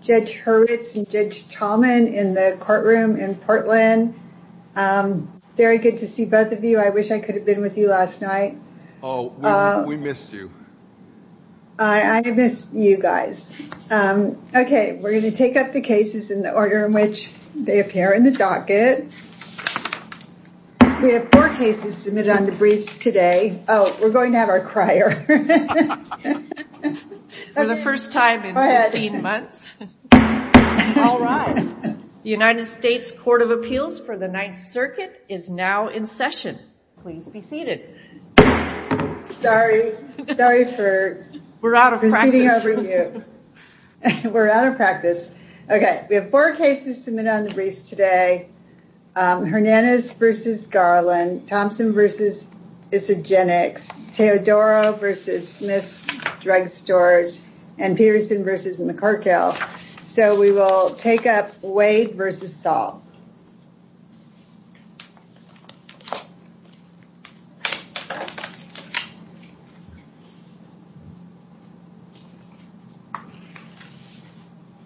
Judge Hurwitz and Judge Tallman in the courtroom in Portland. Um, very good to see both of you. I wish I could have been with you last night. Oh, we missed you. I miss you guys. Okay, we're going to take up the cases in the order in which they appear in the docket. We have four cases submitted on the briefs today. Oh, we're going to have our crier. For the first time in 15 months. All right, the United States Court of Appeals for the Ninth Circuit is now in session. Please be seated. Sorry, sorry for proceeding over you. We're out of practice. Okay, we have four cases submitted on the briefs today. Hernandez v. Garland, Thompson v. Isagenix, Teodoro v. Smith's Drug Stores, and Peterson v. McCorkill. So we will take up Wade v. Saul.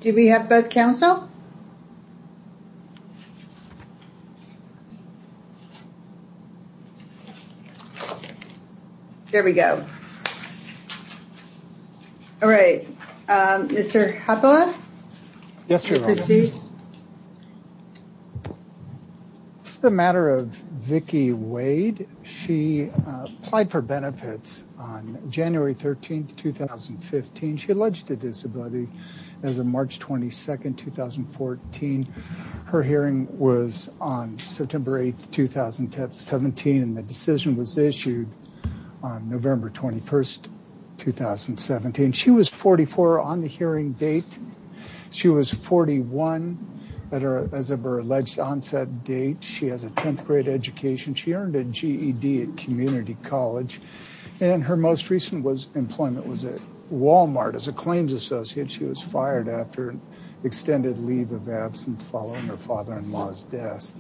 Do we have both counsel? Okay. There we go. All right, um, Mr. Hathaway? Yes, Your Honor. Proceed. It's the matter of Vicki Wade. She applied for benefits on January 13, 2015. She alleged a disability as of March 22, 2014. Her hearing was on September 8, 2017. And the decision was issued on November 21, 2017. She was 44 on the hearing date. She was 41 as of her alleged onset date. She has a 10th grade education. She earned a GED at community college. And her most recent employment was at Walmart as a claims associate. She was fired after an extended leave of absence following her father-in-law's death.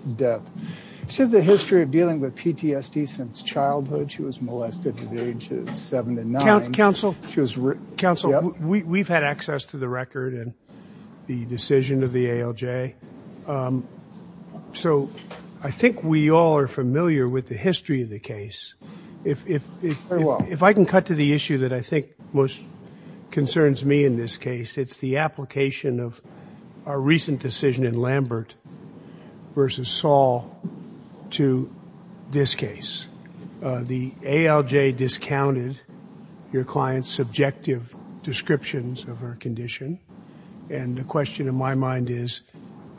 She has a history of dealing with PTSD since childhood. She was molested at the age of seven to nine. Counsel? Counsel, we've had access to the record and the decision of the ALJ. So I think we all are familiar with the history of the case. If I can cut to the issue that I think most concerns me in this case, it's the application of our recent decision in Lambert versus Saul to this case. The ALJ discounted your client's subjective descriptions of her condition. And the question in my mind is,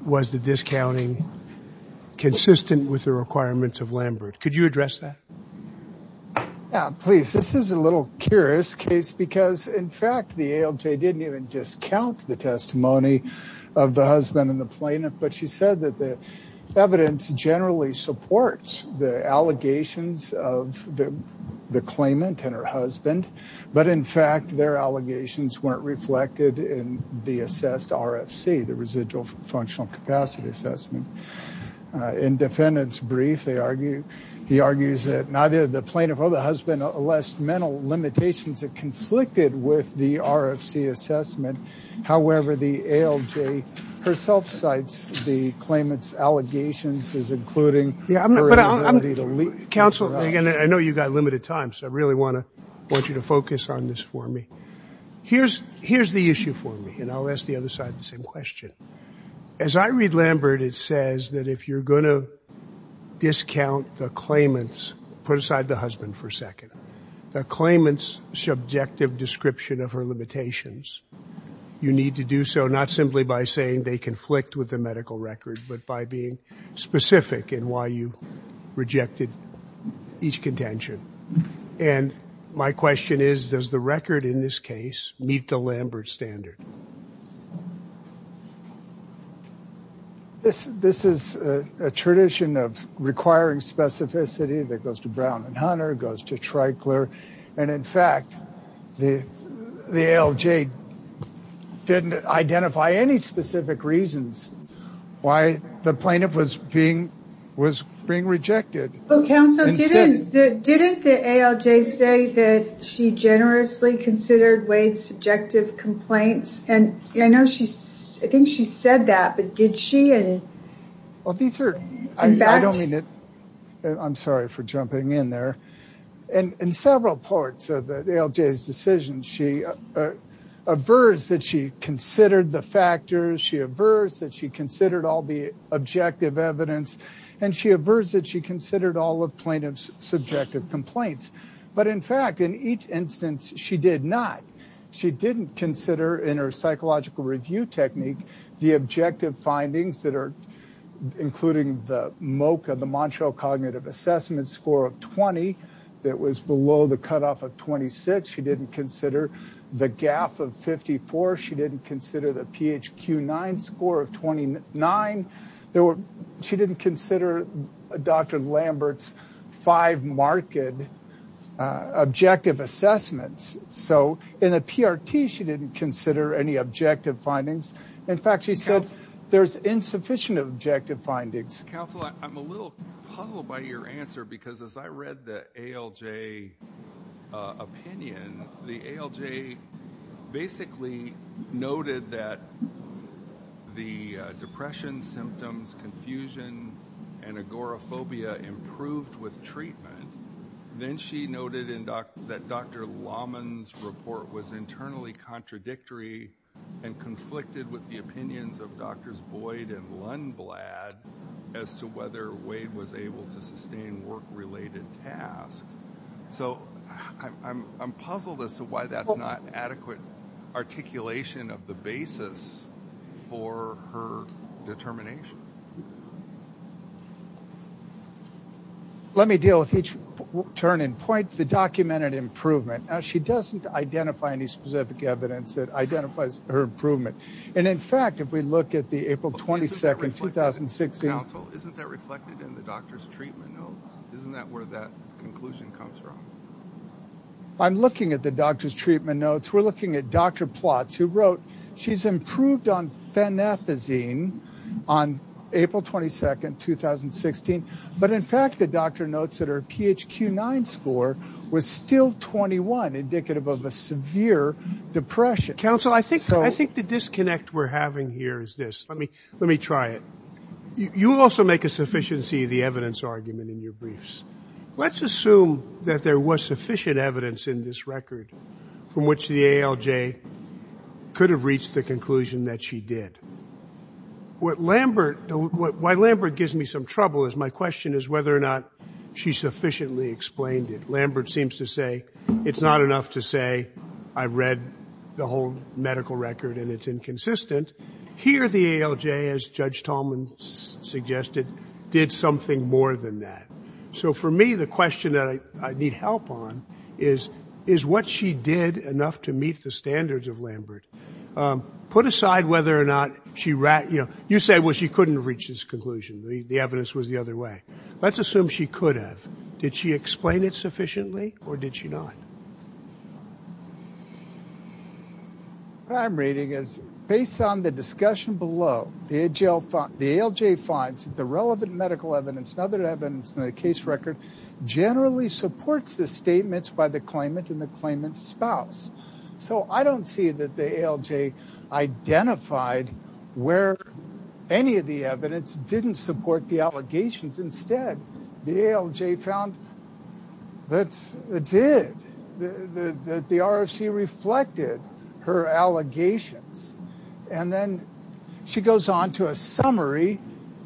was the discounting consistent with the requirements of Lambert? Could you address that? Yeah, please. This is a little curious case because, in fact, the ALJ didn't even discount the testimony of the husband and the plaintiff. But she said that the evidence generally supports the allegations of the claimant and her husband. But in fact, their allegations weren't reflected in the assessed RFC, the residual functional capacity assessment. In defendants brief, they argue, he argues that neither the plaintiff or the husband less mental limitations that conflicted with the RFC assessment. However, the ALJ herself cites the claimant's allegations as including. Counsel, I know you've got limited time. So I really want to want you to focus on this for me. Here's here's the issue for me. And I'll ask the other side the same question. As I read Lambert, it says that if you're going to discount the claimants, put aside the husband for a second, the claimants subjective description of her limitations, you need to do so not simply by saying they conflict with the medical record, but by being specific in why you rejected each contention. And my question is, does the record in this case meet the Lambert standard? Yes, this is a tradition of requiring specificity that goes to Brown and Hunter, goes to Tricler. And in fact, the ALJ didn't identify any specific reasons why the plaintiff was being was being rejected. Didn't the ALJ say that she generously considered Wade's subjective complaints? And I know she's I think she said that. But did she? Well, these are I don't mean it. I'm sorry for jumping in there. And in several parts of the ALJ's decision, she aversed that she considered the factors, she aversed that she considered all the objective evidence, and she aversed that she considered all of plaintiff's subjective complaints. But in fact, in each instance, she did not. She didn't consider in her psychological review technique, the objective findings that are including the MOCA, the Montreal Cognitive Assessment score of 20, that was below the cutoff of 26. She didn't consider the GAF of 54. She didn't consider the PHQ-9 score of 29. She didn't consider Dr. Lambert's five marked objective assessments. So in a PRT, she didn't consider any objective findings. In fact, she said there's insufficient objective findings. Counselor, I'm a little puzzled by your answer because as I read the ALJ opinion, the ALJ basically noted that the depression symptoms, confusion, and agoraphobia improved with treatment. Then she noted that Dr. Laman's report was internally contradictory and conflicted with the opinions of Drs. Boyd and Lundblad as to whether Wade was able to sustain work-related tasks. So I'm puzzled as to why that's not adequate articulation of the basis for her determination. Let me deal with each turn and point. The documented improvement. She doesn't identify any specific evidence that identifies her improvement. And in fact, if we look at the April 22, 2016... Counsel, isn't that reflected in the doctor's treatment notes? Isn't that where that conclusion comes from? I'm looking at the doctor's treatment notes. We're looking at Dr. Plotz who wrote she's improved on phenethazine on April 22, 2016. But in fact, the doctor notes that her PHQ-9 score was still 21, indicative of a severe depression. Counsel, I think the disconnect we're having here is this. Let me try it. You also make a sufficiency of the evidence argument in your briefs. Let's assume that there was sufficient evidence in this record from which the ALJ could have reached the conclusion that she did. What Lambert, why Lambert gives me some trouble is my question is whether or not she sufficiently explained it. Lambert seems to say it's not enough to say I read the whole medical record and it's inconsistent. Here, the ALJ, as Judge Tallman suggested, did something more than that. So for me, the question that I need help on is what she did enough to meet the standards of Lambert. Put aside whether or not she, you know, you said, well, she couldn't reach this conclusion. The evidence was the other way. Let's assume she could have. Did she explain it sufficiently or did she not? What I'm reading is based on the discussion below, the ALJ finds that the relevant medical evidence and other evidence in the case record generally supports the statements by the claimant and the claimant's spouse. So I don't see that the ALJ identified where any of the evidence didn't support the allegations. Instead, the ALJ found that it did, that the ROC reflected her allegations. And then she goes on to a summary.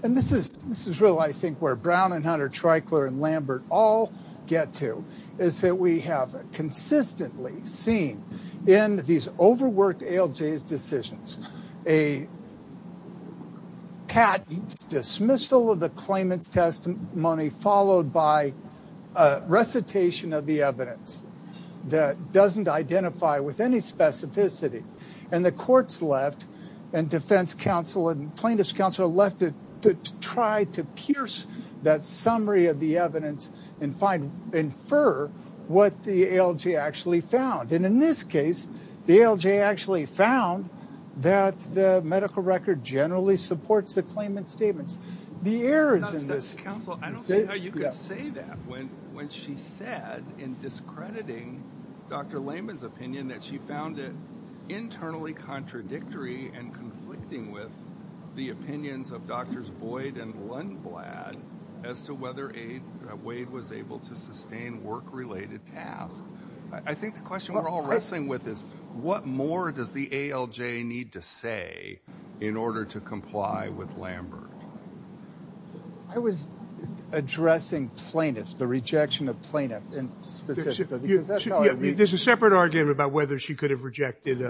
And this is this is really, I think, where Brown and Hunter, Treichler and Lambert all get to, is that we have consistently seen in these overworked ALJ's decisions, a patent dismissal of the claimant's testimony, followed by a recitation of the evidence that doesn't identify with any specificity. And the courts left and defense counsel and plaintiff's counsel left to try to pierce that and infer what the ALJ actually found. And in this case, the ALJ actually found that the medical record generally supports the claimant's statements. The errors in this... Counsel, I don't see how you could say that when she said in discrediting Dr. Layman's opinion that she found it internally contradictory and conflicting with the opinions of Drs. Boyd and Lundblad as to whether Wade was able to sustain work-related tasks. I think the question we're all wrestling with is, what more does the ALJ need to say in order to comply with Lambert? I was addressing plaintiffs, the rejection of plaintiffs specifically. There's a separate argument about whether she could have rejected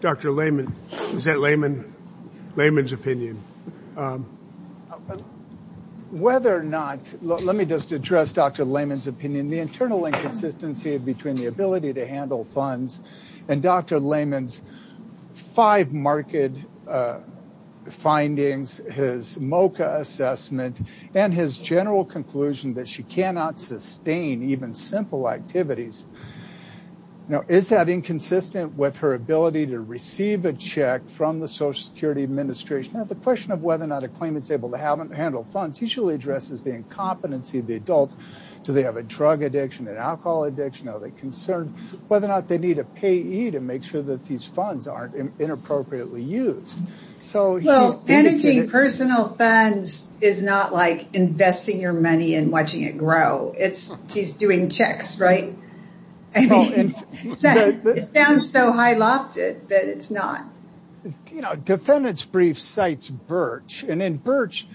Dr. Layman. Is that Layman's opinion? But whether or not... Let me just address Dr. Layman's opinion. The internal inconsistency between the ability to handle funds and Dr. Layman's five market findings, his MOCA assessment, and his general conclusion that she cannot sustain even simple activities. Is that inconsistent with her ability to receive a check from the Social Security Administration? The question of whether or not a claimant's able to handle funds usually addresses the incompetency of the adult. Do they have a drug addiction, an alcohol addiction? Are they concerned whether or not they need a payee to make sure that these funds aren't inappropriately used? Managing personal funds is not like investing your money and watching it grow. It's just doing checks, right? It sounds so high lofted, but it's not. Defendant's brief cites Birch. And in Birch,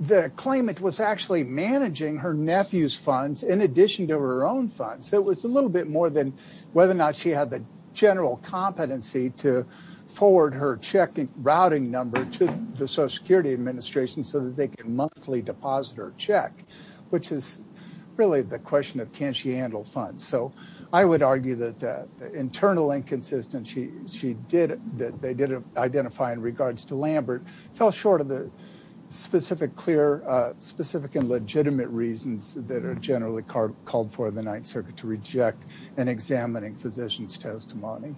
the claimant was actually managing her nephew's funds in addition to her own funds. So it was a little bit more than whether or not she had the general competency to forward her routing number to the Social Security Administration so that they can monthly deposit her check, which is really the question of can she handle funds? I would argue that the internal inconsistency that they did identify in regards to Lambert fell short of the specific and legitimate reasons that are generally called for in the Ninth Circuit to reject an examining physician's testimony.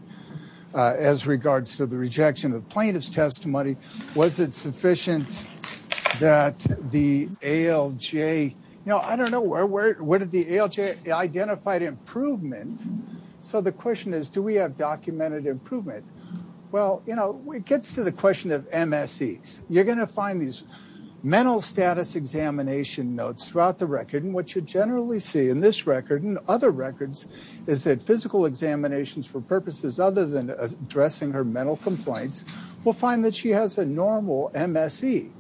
As regards to the rejection of the plaintiff's testimony, was it sufficient that the ALJ, I don't know where the ALJ identified improvement. So the question is, do we have documented improvement? Well, it gets to the question of MSEs. You're going to find these mental status examination notes throughout the record. And what you generally see in this record and other records is that physical examinations for purposes other than addressing her mental complaints will find that she has a normal MSE.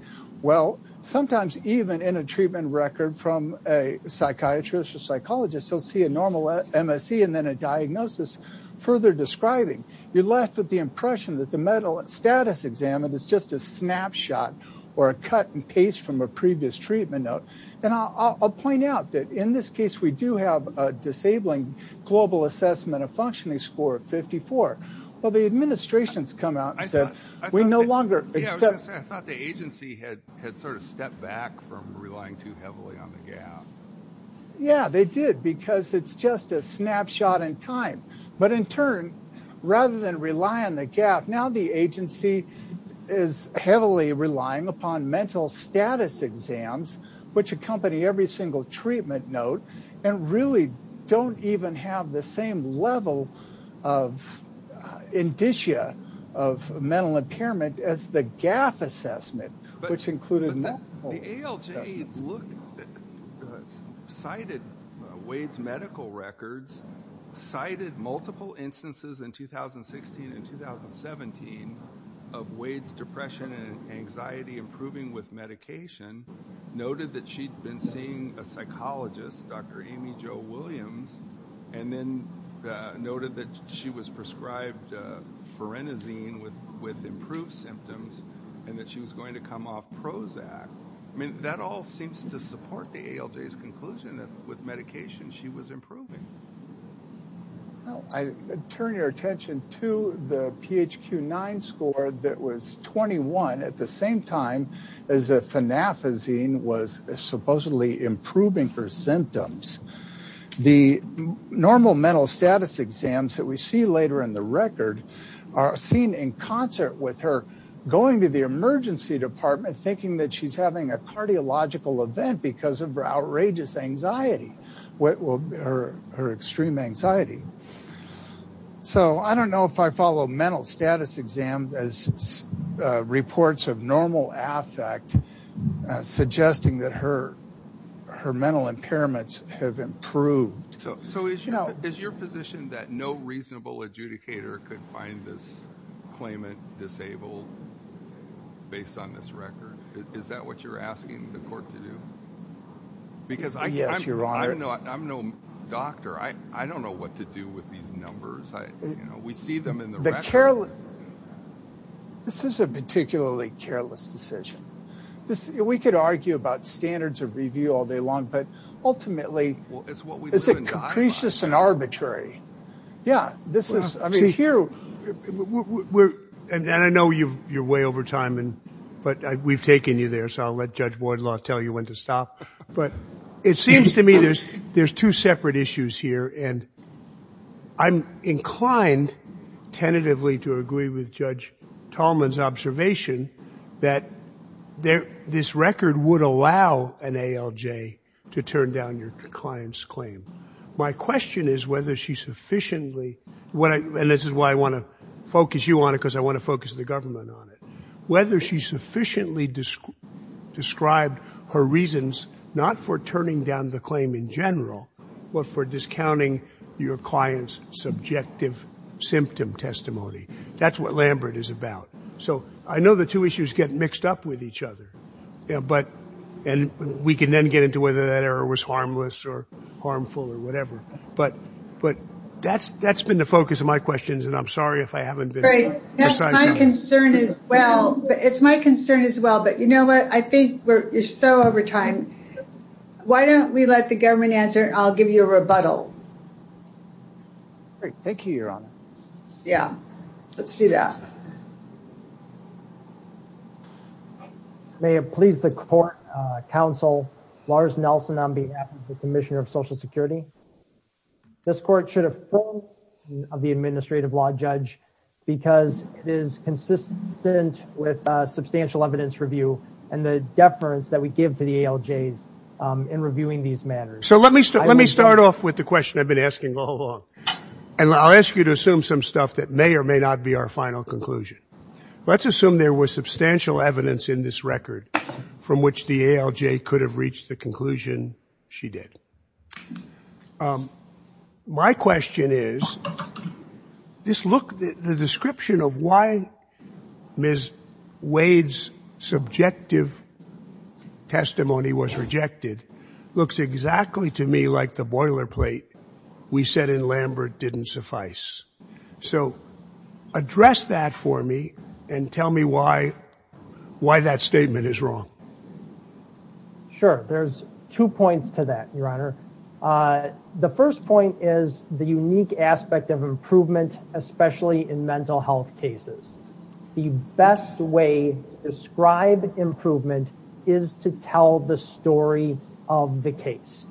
Well, sometimes even in a treatment record from a psychiatrist or psychologist, they'll see a normal MSE and then a diagnosis further describing. You're left with the impression that the mental status examined is just a snapshot or a cut and paste from a previous treatment note. And I'll point out that in this case, we do have a disabling global assessment of functioning score of 54. Well, the administration's come out and said, we no longer. I thought the agency had sort of stepped back from relying too heavily on the gap. Yeah, they did, because it's just a snapshot in time. But in turn, rather than rely on the gap, now the agency is heavily relying upon mental status exams, which accompany every single treatment note and really don't even have the same level of indicia of mental impairment as the gap assessment, which included. The ALJ cited Wade's medical records, cited multiple instances in 2016 and 2017 of Wade's depression and anxiety improving with medication, noted that she'd been seeing a psychologist, Dr. Amy Jo Williams, and then noted that she was prescribed forenosine with improved symptoms and that she was going to come off Prozac. I mean, that all seems to support the ALJ's conclusion that with medication she was improving. Well, I turn your attention to the PHQ-9 score that was 21 at the same time as the improving her symptoms. The normal mental status exams that we see later in the record are seen in concert with her going to the emergency department thinking that she's having a cardiological event because of her outrageous anxiety, her extreme anxiety. I don't know if I follow mental status exam as reports of normal affect suggesting that her mental impairments have improved. So is your position that no reasonable adjudicator could find this claimant disabled based on this record? Is that what you're asking the court to do? Because I'm no doctor. I don't know what to do with these numbers. We see them in the record. This is a particularly careless decision. We could argue about standards of review all day long, but ultimately it's a capricious and arbitrary. Yeah, this is, I mean, here. And I know you're way over time, but we've taken you there. So I'll let Judge Wardlaw tell you when to stop. But it seems to me there's two separate issues here, and I'm inclined tentatively to agree with Judge Tallman's observation that this record would allow an ALJ to turn down your client's claim. My question is whether she sufficiently, and this is why I want to focus you on it, because I want to focus the government on it, whether she sufficiently described her reasons not for turning down the claim in general, but for discounting your client's subjective symptom testimony. That's what Lambert is about. So I know the two issues get mixed up with each other, and we can then get into whether that error was harmless or harmful or whatever. But that's been the focus of my questions, and I'm sorry if I haven't been precise enough. That's my concern as well. It's my concern as well. But you know what? I think you're so over time. Why don't we let the government answer, and I'll give you a rebuttal. Great. Thank you, Your Honor. Yeah, let's see that. May it please the court, counsel Lars Nelson on behalf of the Commissioner of Social Security. This court should affirm the administration of the administrative law judge because it is consistent with substantial evidence review and the deference that we give to the ALJs in reviewing these matters. So let me start off with the question I've been asking all along, and I'll ask you to assume some stuff that may or may not be our final conclusion. Let's assume there was substantial evidence in this record from which the ALJ could have reached the conclusion she did. My question is, this look, the description of why Ms. Wade's subjective testimony was So address that for me and tell me why that statement is wrong. Sure. There's two points to that, Your Honor. The first point is the unique aspect of improvement, especially in mental health cases. The best way to describe improvement is to tell the story of the case.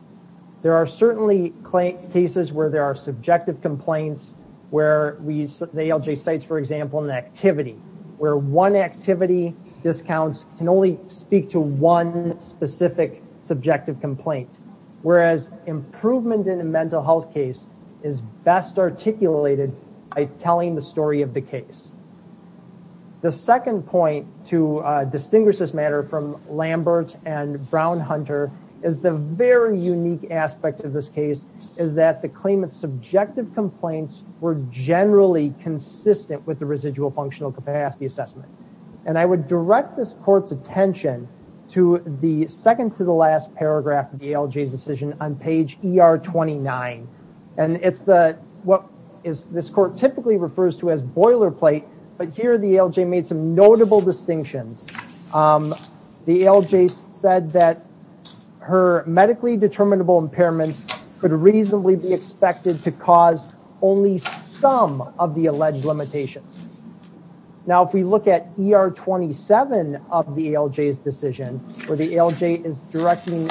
There are certainly cases where there are subjective complaints, where the ALJ cites, for example, an activity where one activity discounts can only speak to one specific subjective complaint, whereas improvement in a mental health case is best articulated by telling the story of the case. The second point to distinguish this matter from Lambert and Brown-Hunter is the very unique aspect of this case is that the claimant's subjective complaints were generally consistent with the residual functional capacity assessment. And I would direct this court's attention to the second to the last paragraph of the ALJ's decision on page ER 29. And it's what this court typically refers to as boilerplate, but here the ALJ made some notable distinctions. The ALJ said that her medically determinable impairments could reasonably be expected to cause only some of the alleged limitations. Now, if we look at ER 27 of the ALJ's decision, where the ALJ is directing,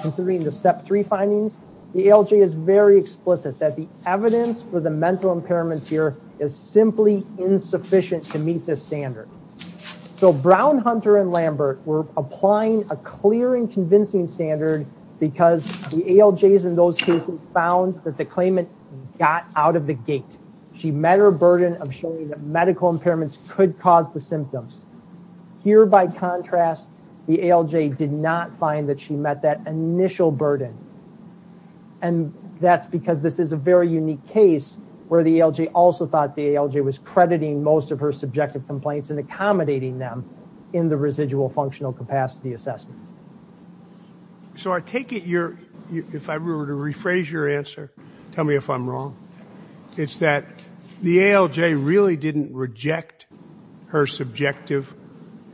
considering the findings, the ALJ is very explicit that the evidence for the mental impairments here is simply insufficient to meet this standard. So Brown-Hunter and Lambert were applying a clear and convincing standard because the ALJs in those cases found that the claimant got out of the gate. She met her burden of showing that medical impairments could cause the symptoms. Here, by contrast, the ALJ did not find that she met that initial burden. And that's because this is a very unique case where the ALJ also thought the ALJ was crediting most of her subjective complaints and accommodating them in the residual functional capacity assessment. So I take it you're, if I were to rephrase your answer, tell me if I'm wrong. It's that the ALJ really didn't reject her subjective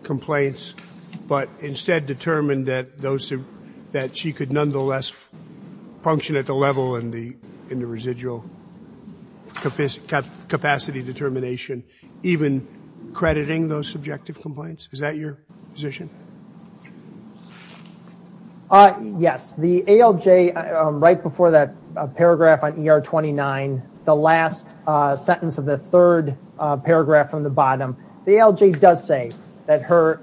complaints, but instead determined that those, that she could nonetheless function at the level in the residual capacity determination, even crediting those subjective complaints? Is that your position? Yes, the ALJ, right before that paragraph on ER-29, the last sentence of the third paragraph from the bottom, the ALJ does say that her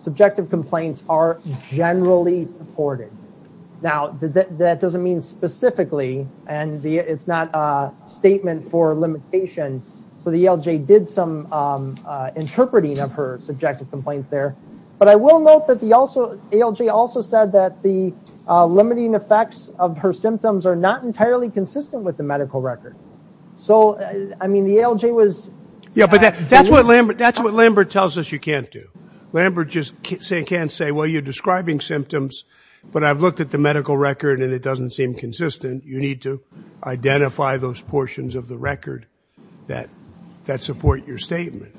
subjective complaints are generally supported. Now, that doesn't mean specifically, and it's not a statement for limitation. So the ALJ did some interpreting of her subjective complaints there. But I will note that the ALJ also said that the limiting effects of her symptoms are not entirely consistent with the medical record. So, I mean, the ALJ was... Yeah, but that's what Lambert tells us you can't do. Lambert just can't say, well, you're describing symptoms, but I've looked at the medical record and it doesn't seem consistent. You need to identify those portions of the record that support your statement.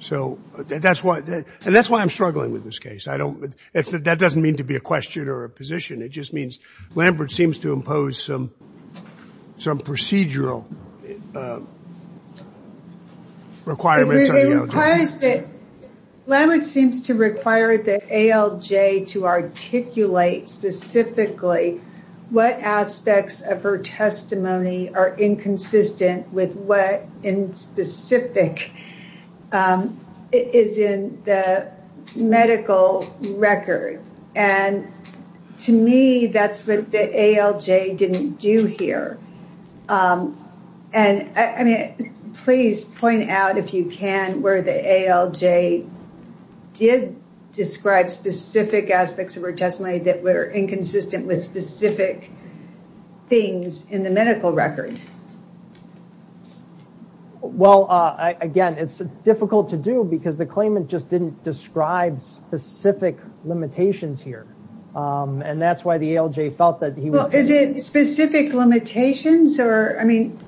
So that's why, and that's why I'm struggling with this case. I don't, that doesn't mean to be a question or a position. It just means Lambert seems to impose some procedural requirements on the ALJ. Lambert seems to require the ALJ to articulate specifically what aspects of her testimony are inconsistent with what in specific is in the medical record. And to me, that's what the ALJ didn't do here. And I mean, please point out if you can where the ALJ did describe specific aspects of her record. Well, again, it's difficult to do because the claimant just didn't describe specific limitations here. And that's why the ALJ felt that he was... Well, is it specific limitations or, I mean,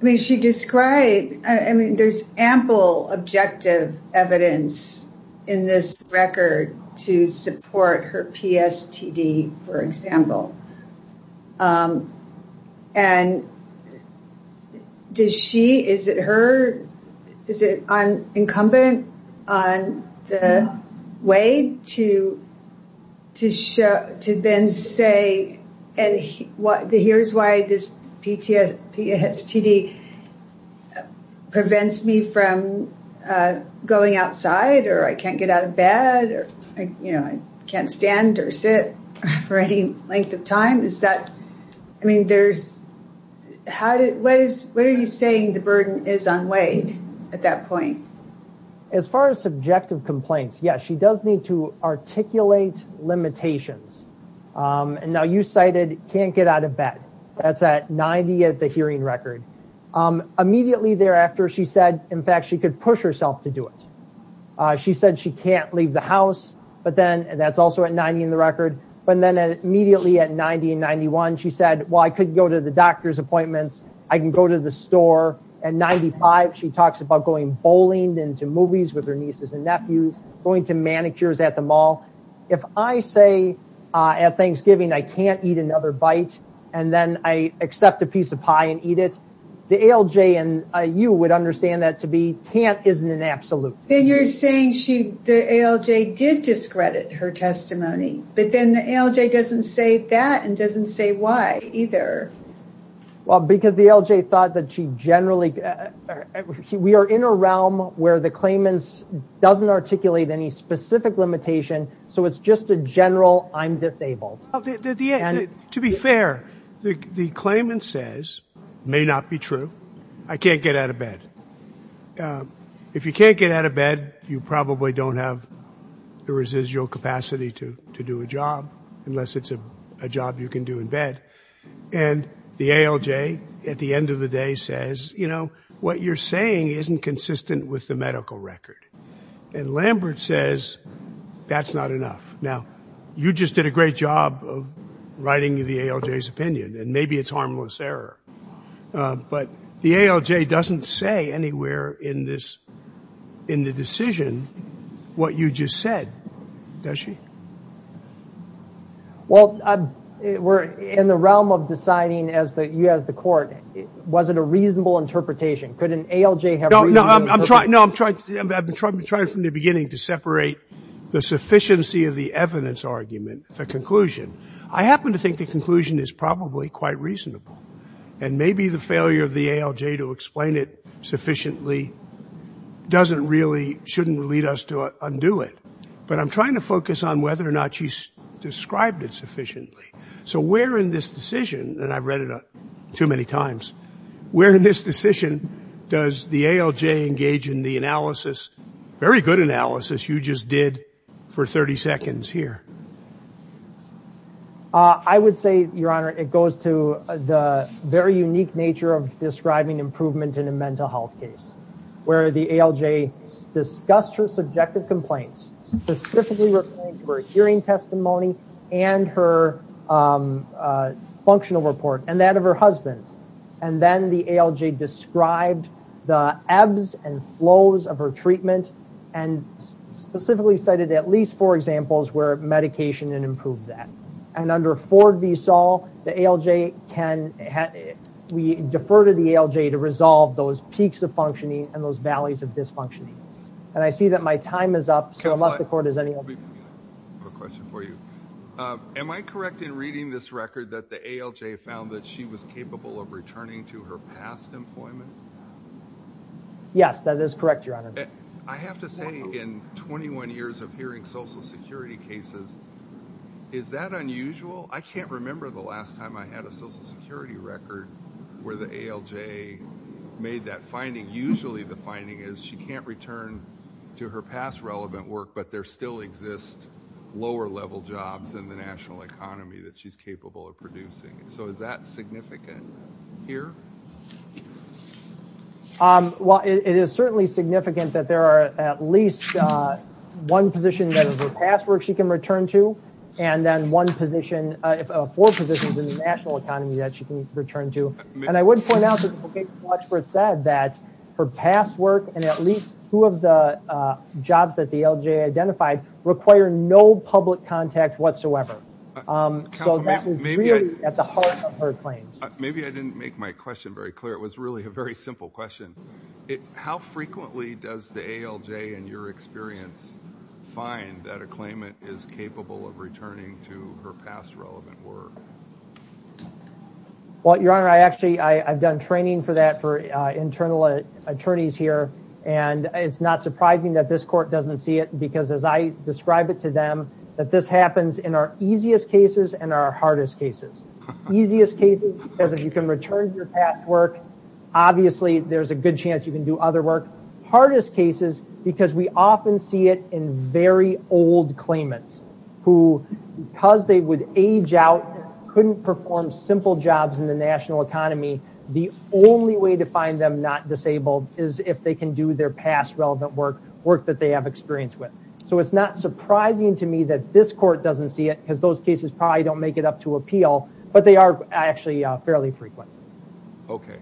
I mean, she described, I mean, there's ample objective evidence in this record to support her PSTD, for example. And does she, is it her, is it incumbent on the way to then say, and here's why this PSTD prevents me from going outside or I can't get out of bed or, you know, I can't stand or sit for any length of time. Is that, I mean, there's, how did, what is, what are you saying the burden is unweighed at that point? As far as subjective complaints, yes, she does need to articulate limitations. And now you cited can't get out of bed. That's at 90 at the hearing record. Immediately thereafter, she said, in fact, she could push herself to do it. She said she can't leave the house, but then, and that's also at 90 in the record. But then immediately at 90 and 91, she said, well, I could go to the doctor's appointments. I can go to the store. At 95, she talks about going bowling into movies with her nieces and nephews, going to manicures at the mall. If I say at Thanksgiving, I can't eat another bite. And then I accept a piece of pie and eat it. The ALJ and you would understand that to be can't isn't an absolute. Then you're saying she, the ALJ did discredit her testimony, but then the ALJ doesn't say that and doesn't say why either. Well, because the ALJ thought that she generally, we are in a realm where the claimant doesn't articulate any specific limitation. So it's just a general, I'm disabled. To be fair, the claimant says, may not be true. I can't get out of bed. And if you can't get out of bed, you probably don't have the residual capacity to do a job unless it's a job you can do in bed. And the ALJ at the end of the day says, you know, what you're saying isn't consistent with the medical record. And Lambert says, that's not enough. Now, you just did a great job of writing the ALJ's opinion. And maybe it's harmless error. But the ALJ doesn't say anywhere in this, in the decision, what you just said, does she? Well, we're in the realm of deciding as the, you as the court, was it a reasonable interpretation? Could an ALJ have- No, no, I'm trying, I've been trying from the beginning to separate the sufficiency of the evidence argument, the conclusion. I happen to think the conclusion is probably quite reasonable. And maybe the failure of the ALJ to explain it sufficiently doesn't really, shouldn't lead us to undo it. But I'm trying to focus on whether or not she's described it sufficiently. So where in this decision, and I've read it too many times, where in this decision does the ALJ engage in the analysis, very good analysis, you just did for 30 seconds here? I would say, Your Honor, it goes to the very unique nature of describing improvement in a mental health case, where the ALJ discussed her subjective complaints, specifically referring to her hearing testimony and her functional report and that of her husband. And then the ALJ described the ebbs and flows of her treatment and specifically cited at medication and improved that. And under Ford v. Saul, the ALJ can, we defer to the ALJ to resolve those peaks of functioning and those valleys of dysfunctioning. And I see that my time is up. So I'll let the court, does anyone- Quick question for you. Am I correct in reading this record that the ALJ found that she was capable of returning to her past employment? Yes, that is correct, Your Honor. I have to say in 21 years of hearing social security cases, is that unusual? I can't remember the last time I had a social security record where the ALJ made that finding. Usually the finding is she can't return to her past relevant work, but there still exist lower level jobs in the national economy that she's capable of producing. So is that significant here? Well, it is certainly significant that there are at least one position that is her past work she can return to, and then one position, four positions in the national economy that she can return to. And I would point out that the location watch for it said that her past work and at least two of the jobs that the ALJ identified require no public contact whatsoever. So that was really at the heart of her claims. Maybe I didn't make my question very clear. It was really a very simple question. How frequently does the ALJ, in your experience, find that a claimant is capable of returning to her past relevant work? Well, Your Honor, I actually I've done training for that for internal attorneys here, and it's not surprising that this court doesn't see it because as I describe it to them, that this happens in our easiest cases and our hardest cases. Easiest cases because if you can return to your past work, obviously there's a good chance you can do other work. Hardest cases because we often see it in very old claimants who, because they would age out, couldn't perform simple jobs in the national economy, the only way to find them not disabled is if they can do their past relevant work, work that they have experience with. So it's not surprising to me that this court doesn't see it because those cases probably don't make it up to appeal, but they are actually fairly frequent. Okay.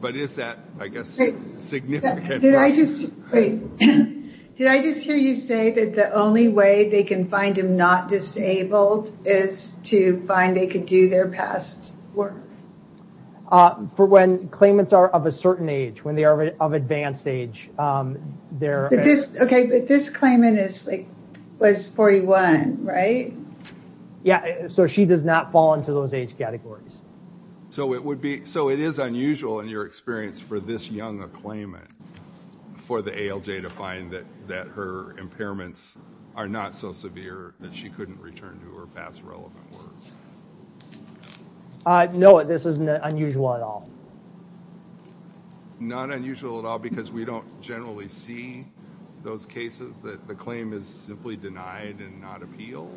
But is that, I guess, significant? Did I just hear you say that the only way they can find them not disabled is to find they could do their past work? For when claimants are of a certain age, when they are of advanced age. Okay, but this claimant was 41, right? Yeah, so she does not fall into those age categories. So it would be, so it is unusual in your experience for this young a claimant, for the ALJ to find that her impairments are not so severe that she couldn't return to her past relevant work. No, this isn't unusual at all. Not unusual at all because we don't generally see those cases that the claim is simply denied and not appealed?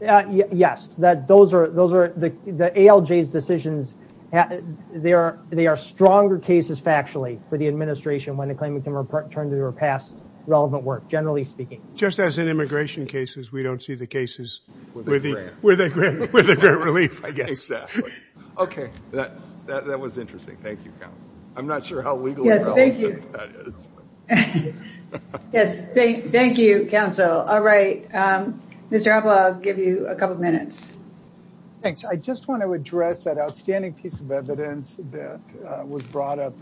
Yeah, yes, that those are the ALJ's decisions. They are stronger cases factually for the administration when a claimant can return to her past relevant work, generally speaking. Just as in immigration cases, we don't see the cases with a great relief, I guess. Exactly. Okay, that was interesting. Thank you, counsel. I'm not sure how legal or not that is. Yes, thank you, counsel. All right, Mr. Appel, I'll give you a couple of minutes. Thanks. I just want to address that outstanding piece of evidence that was brought up.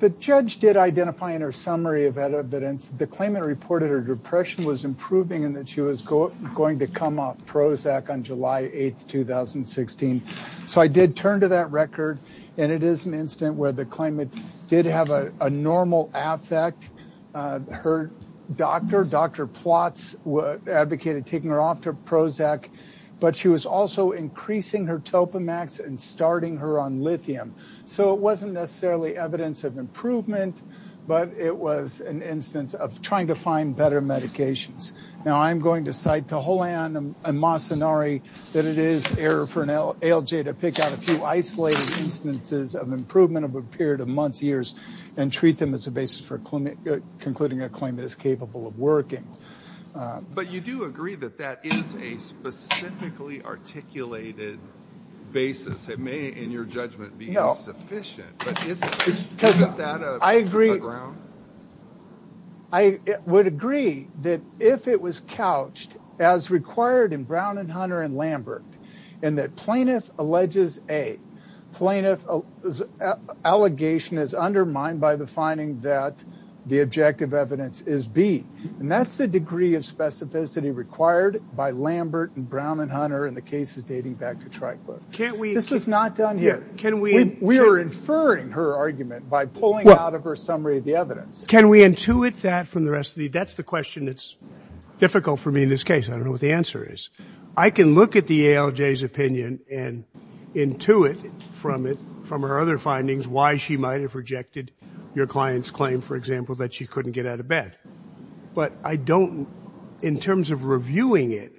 The judge did identify in her summary of evidence the claimant reported her depression was improving and that she was going to come off Prozac on July 8, 2016. So I did turn to that record and it is an incident where the claimant did have a normal affect. Her doctor, Dr. Plotz, advocated taking her off to Prozac, but she was also increasing her Topamax and starting her on lithium. So it wasn't necessarily evidence of improvement, but it was an instance of trying to find better medications. Now, I'm going to cite to Holan and Masanari that it is error for an ALJ to pick out a improvement of a period of months, years, and treat them as a basis for concluding a claim that is capable of working. But you do agree that that is a specifically articulated basis. It may, in your judgment, be insufficient, but isn't that a ground? I would agree that if it was couched, as required in Brown and Hunter and Lambert, and that allegation is undermined by the finding that the objective evidence is B. And that's the degree of specificity required by Lambert and Brown and Hunter in the cases dating back to Tri-Club. This is not done here. We are inferring her argument by pulling out of her summary of the evidence. Can we intuit that from the rest of the... That's the question that's difficult for me in this case. I don't know what the answer is. I can look at the ALJ's opinion and intuit from it, from her other findings, why she might have rejected your client's claim, for example, that she couldn't get out of bed. But I don't, in terms of reviewing it,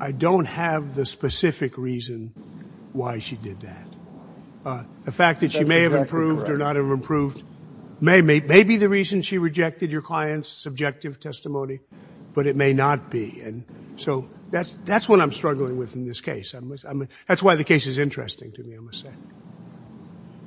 I don't have the specific reason why she did that. The fact that she may have improved or not have improved may be the reason she rejected your client's subjective testimony, but it may not be. So that's what I'm struggling with in this case. That's why the case is interesting to me, I must say.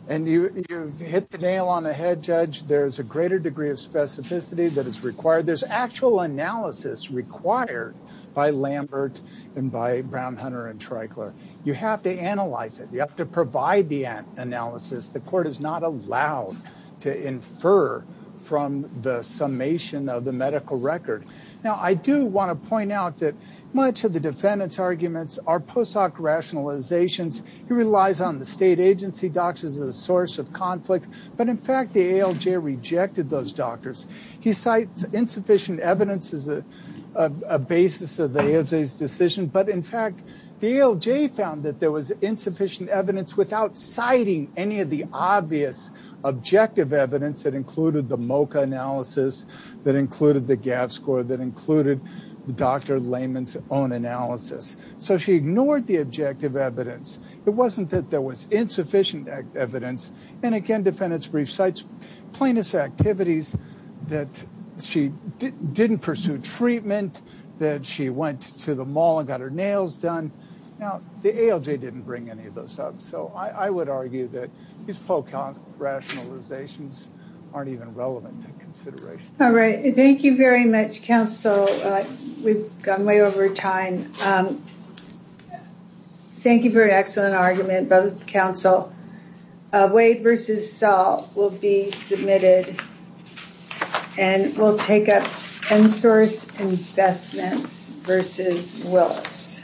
And you've hit the nail on the head, Judge. There's a greater degree of specificity that is required. There's actual analysis required by Lambert and by Brown, Hunter, and Tri-Club. You have to analyze it. You have to provide the analysis. The court is not allowed to infer from the summation of the medical record. Now, I do want to point out that much of the defendant's arguments are post hoc rationalizations. He relies on the state agency doctors as a source of conflict. But in fact, the ALJ rejected those doctors. He cites insufficient evidence as a basis of the ALJ's decision. But in fact, the ALJ found that there was insufficient evidence without citing any of the obvious objective evidence that included the MOCA analysis, that included the GAF score, that included Dr. Layman's own analysis. So she ignored the objective evidence. It wasn't that there was insufficient evidence. And again, the defendant recites plaintiff's activities that she didn't pursue treatment, that she went to the mall and got her nails done. Now, the ALJ didn't bring any of those up. So I would argue that these post hoc rationalizations aren't even relevant to consideration. All right. Thank you very much, counsel. We've gone way over time. Thank you for an excellent argument, both counsel. Wade versus Saul will be submitted. And we'll take up Penn Source Investments versus Willis.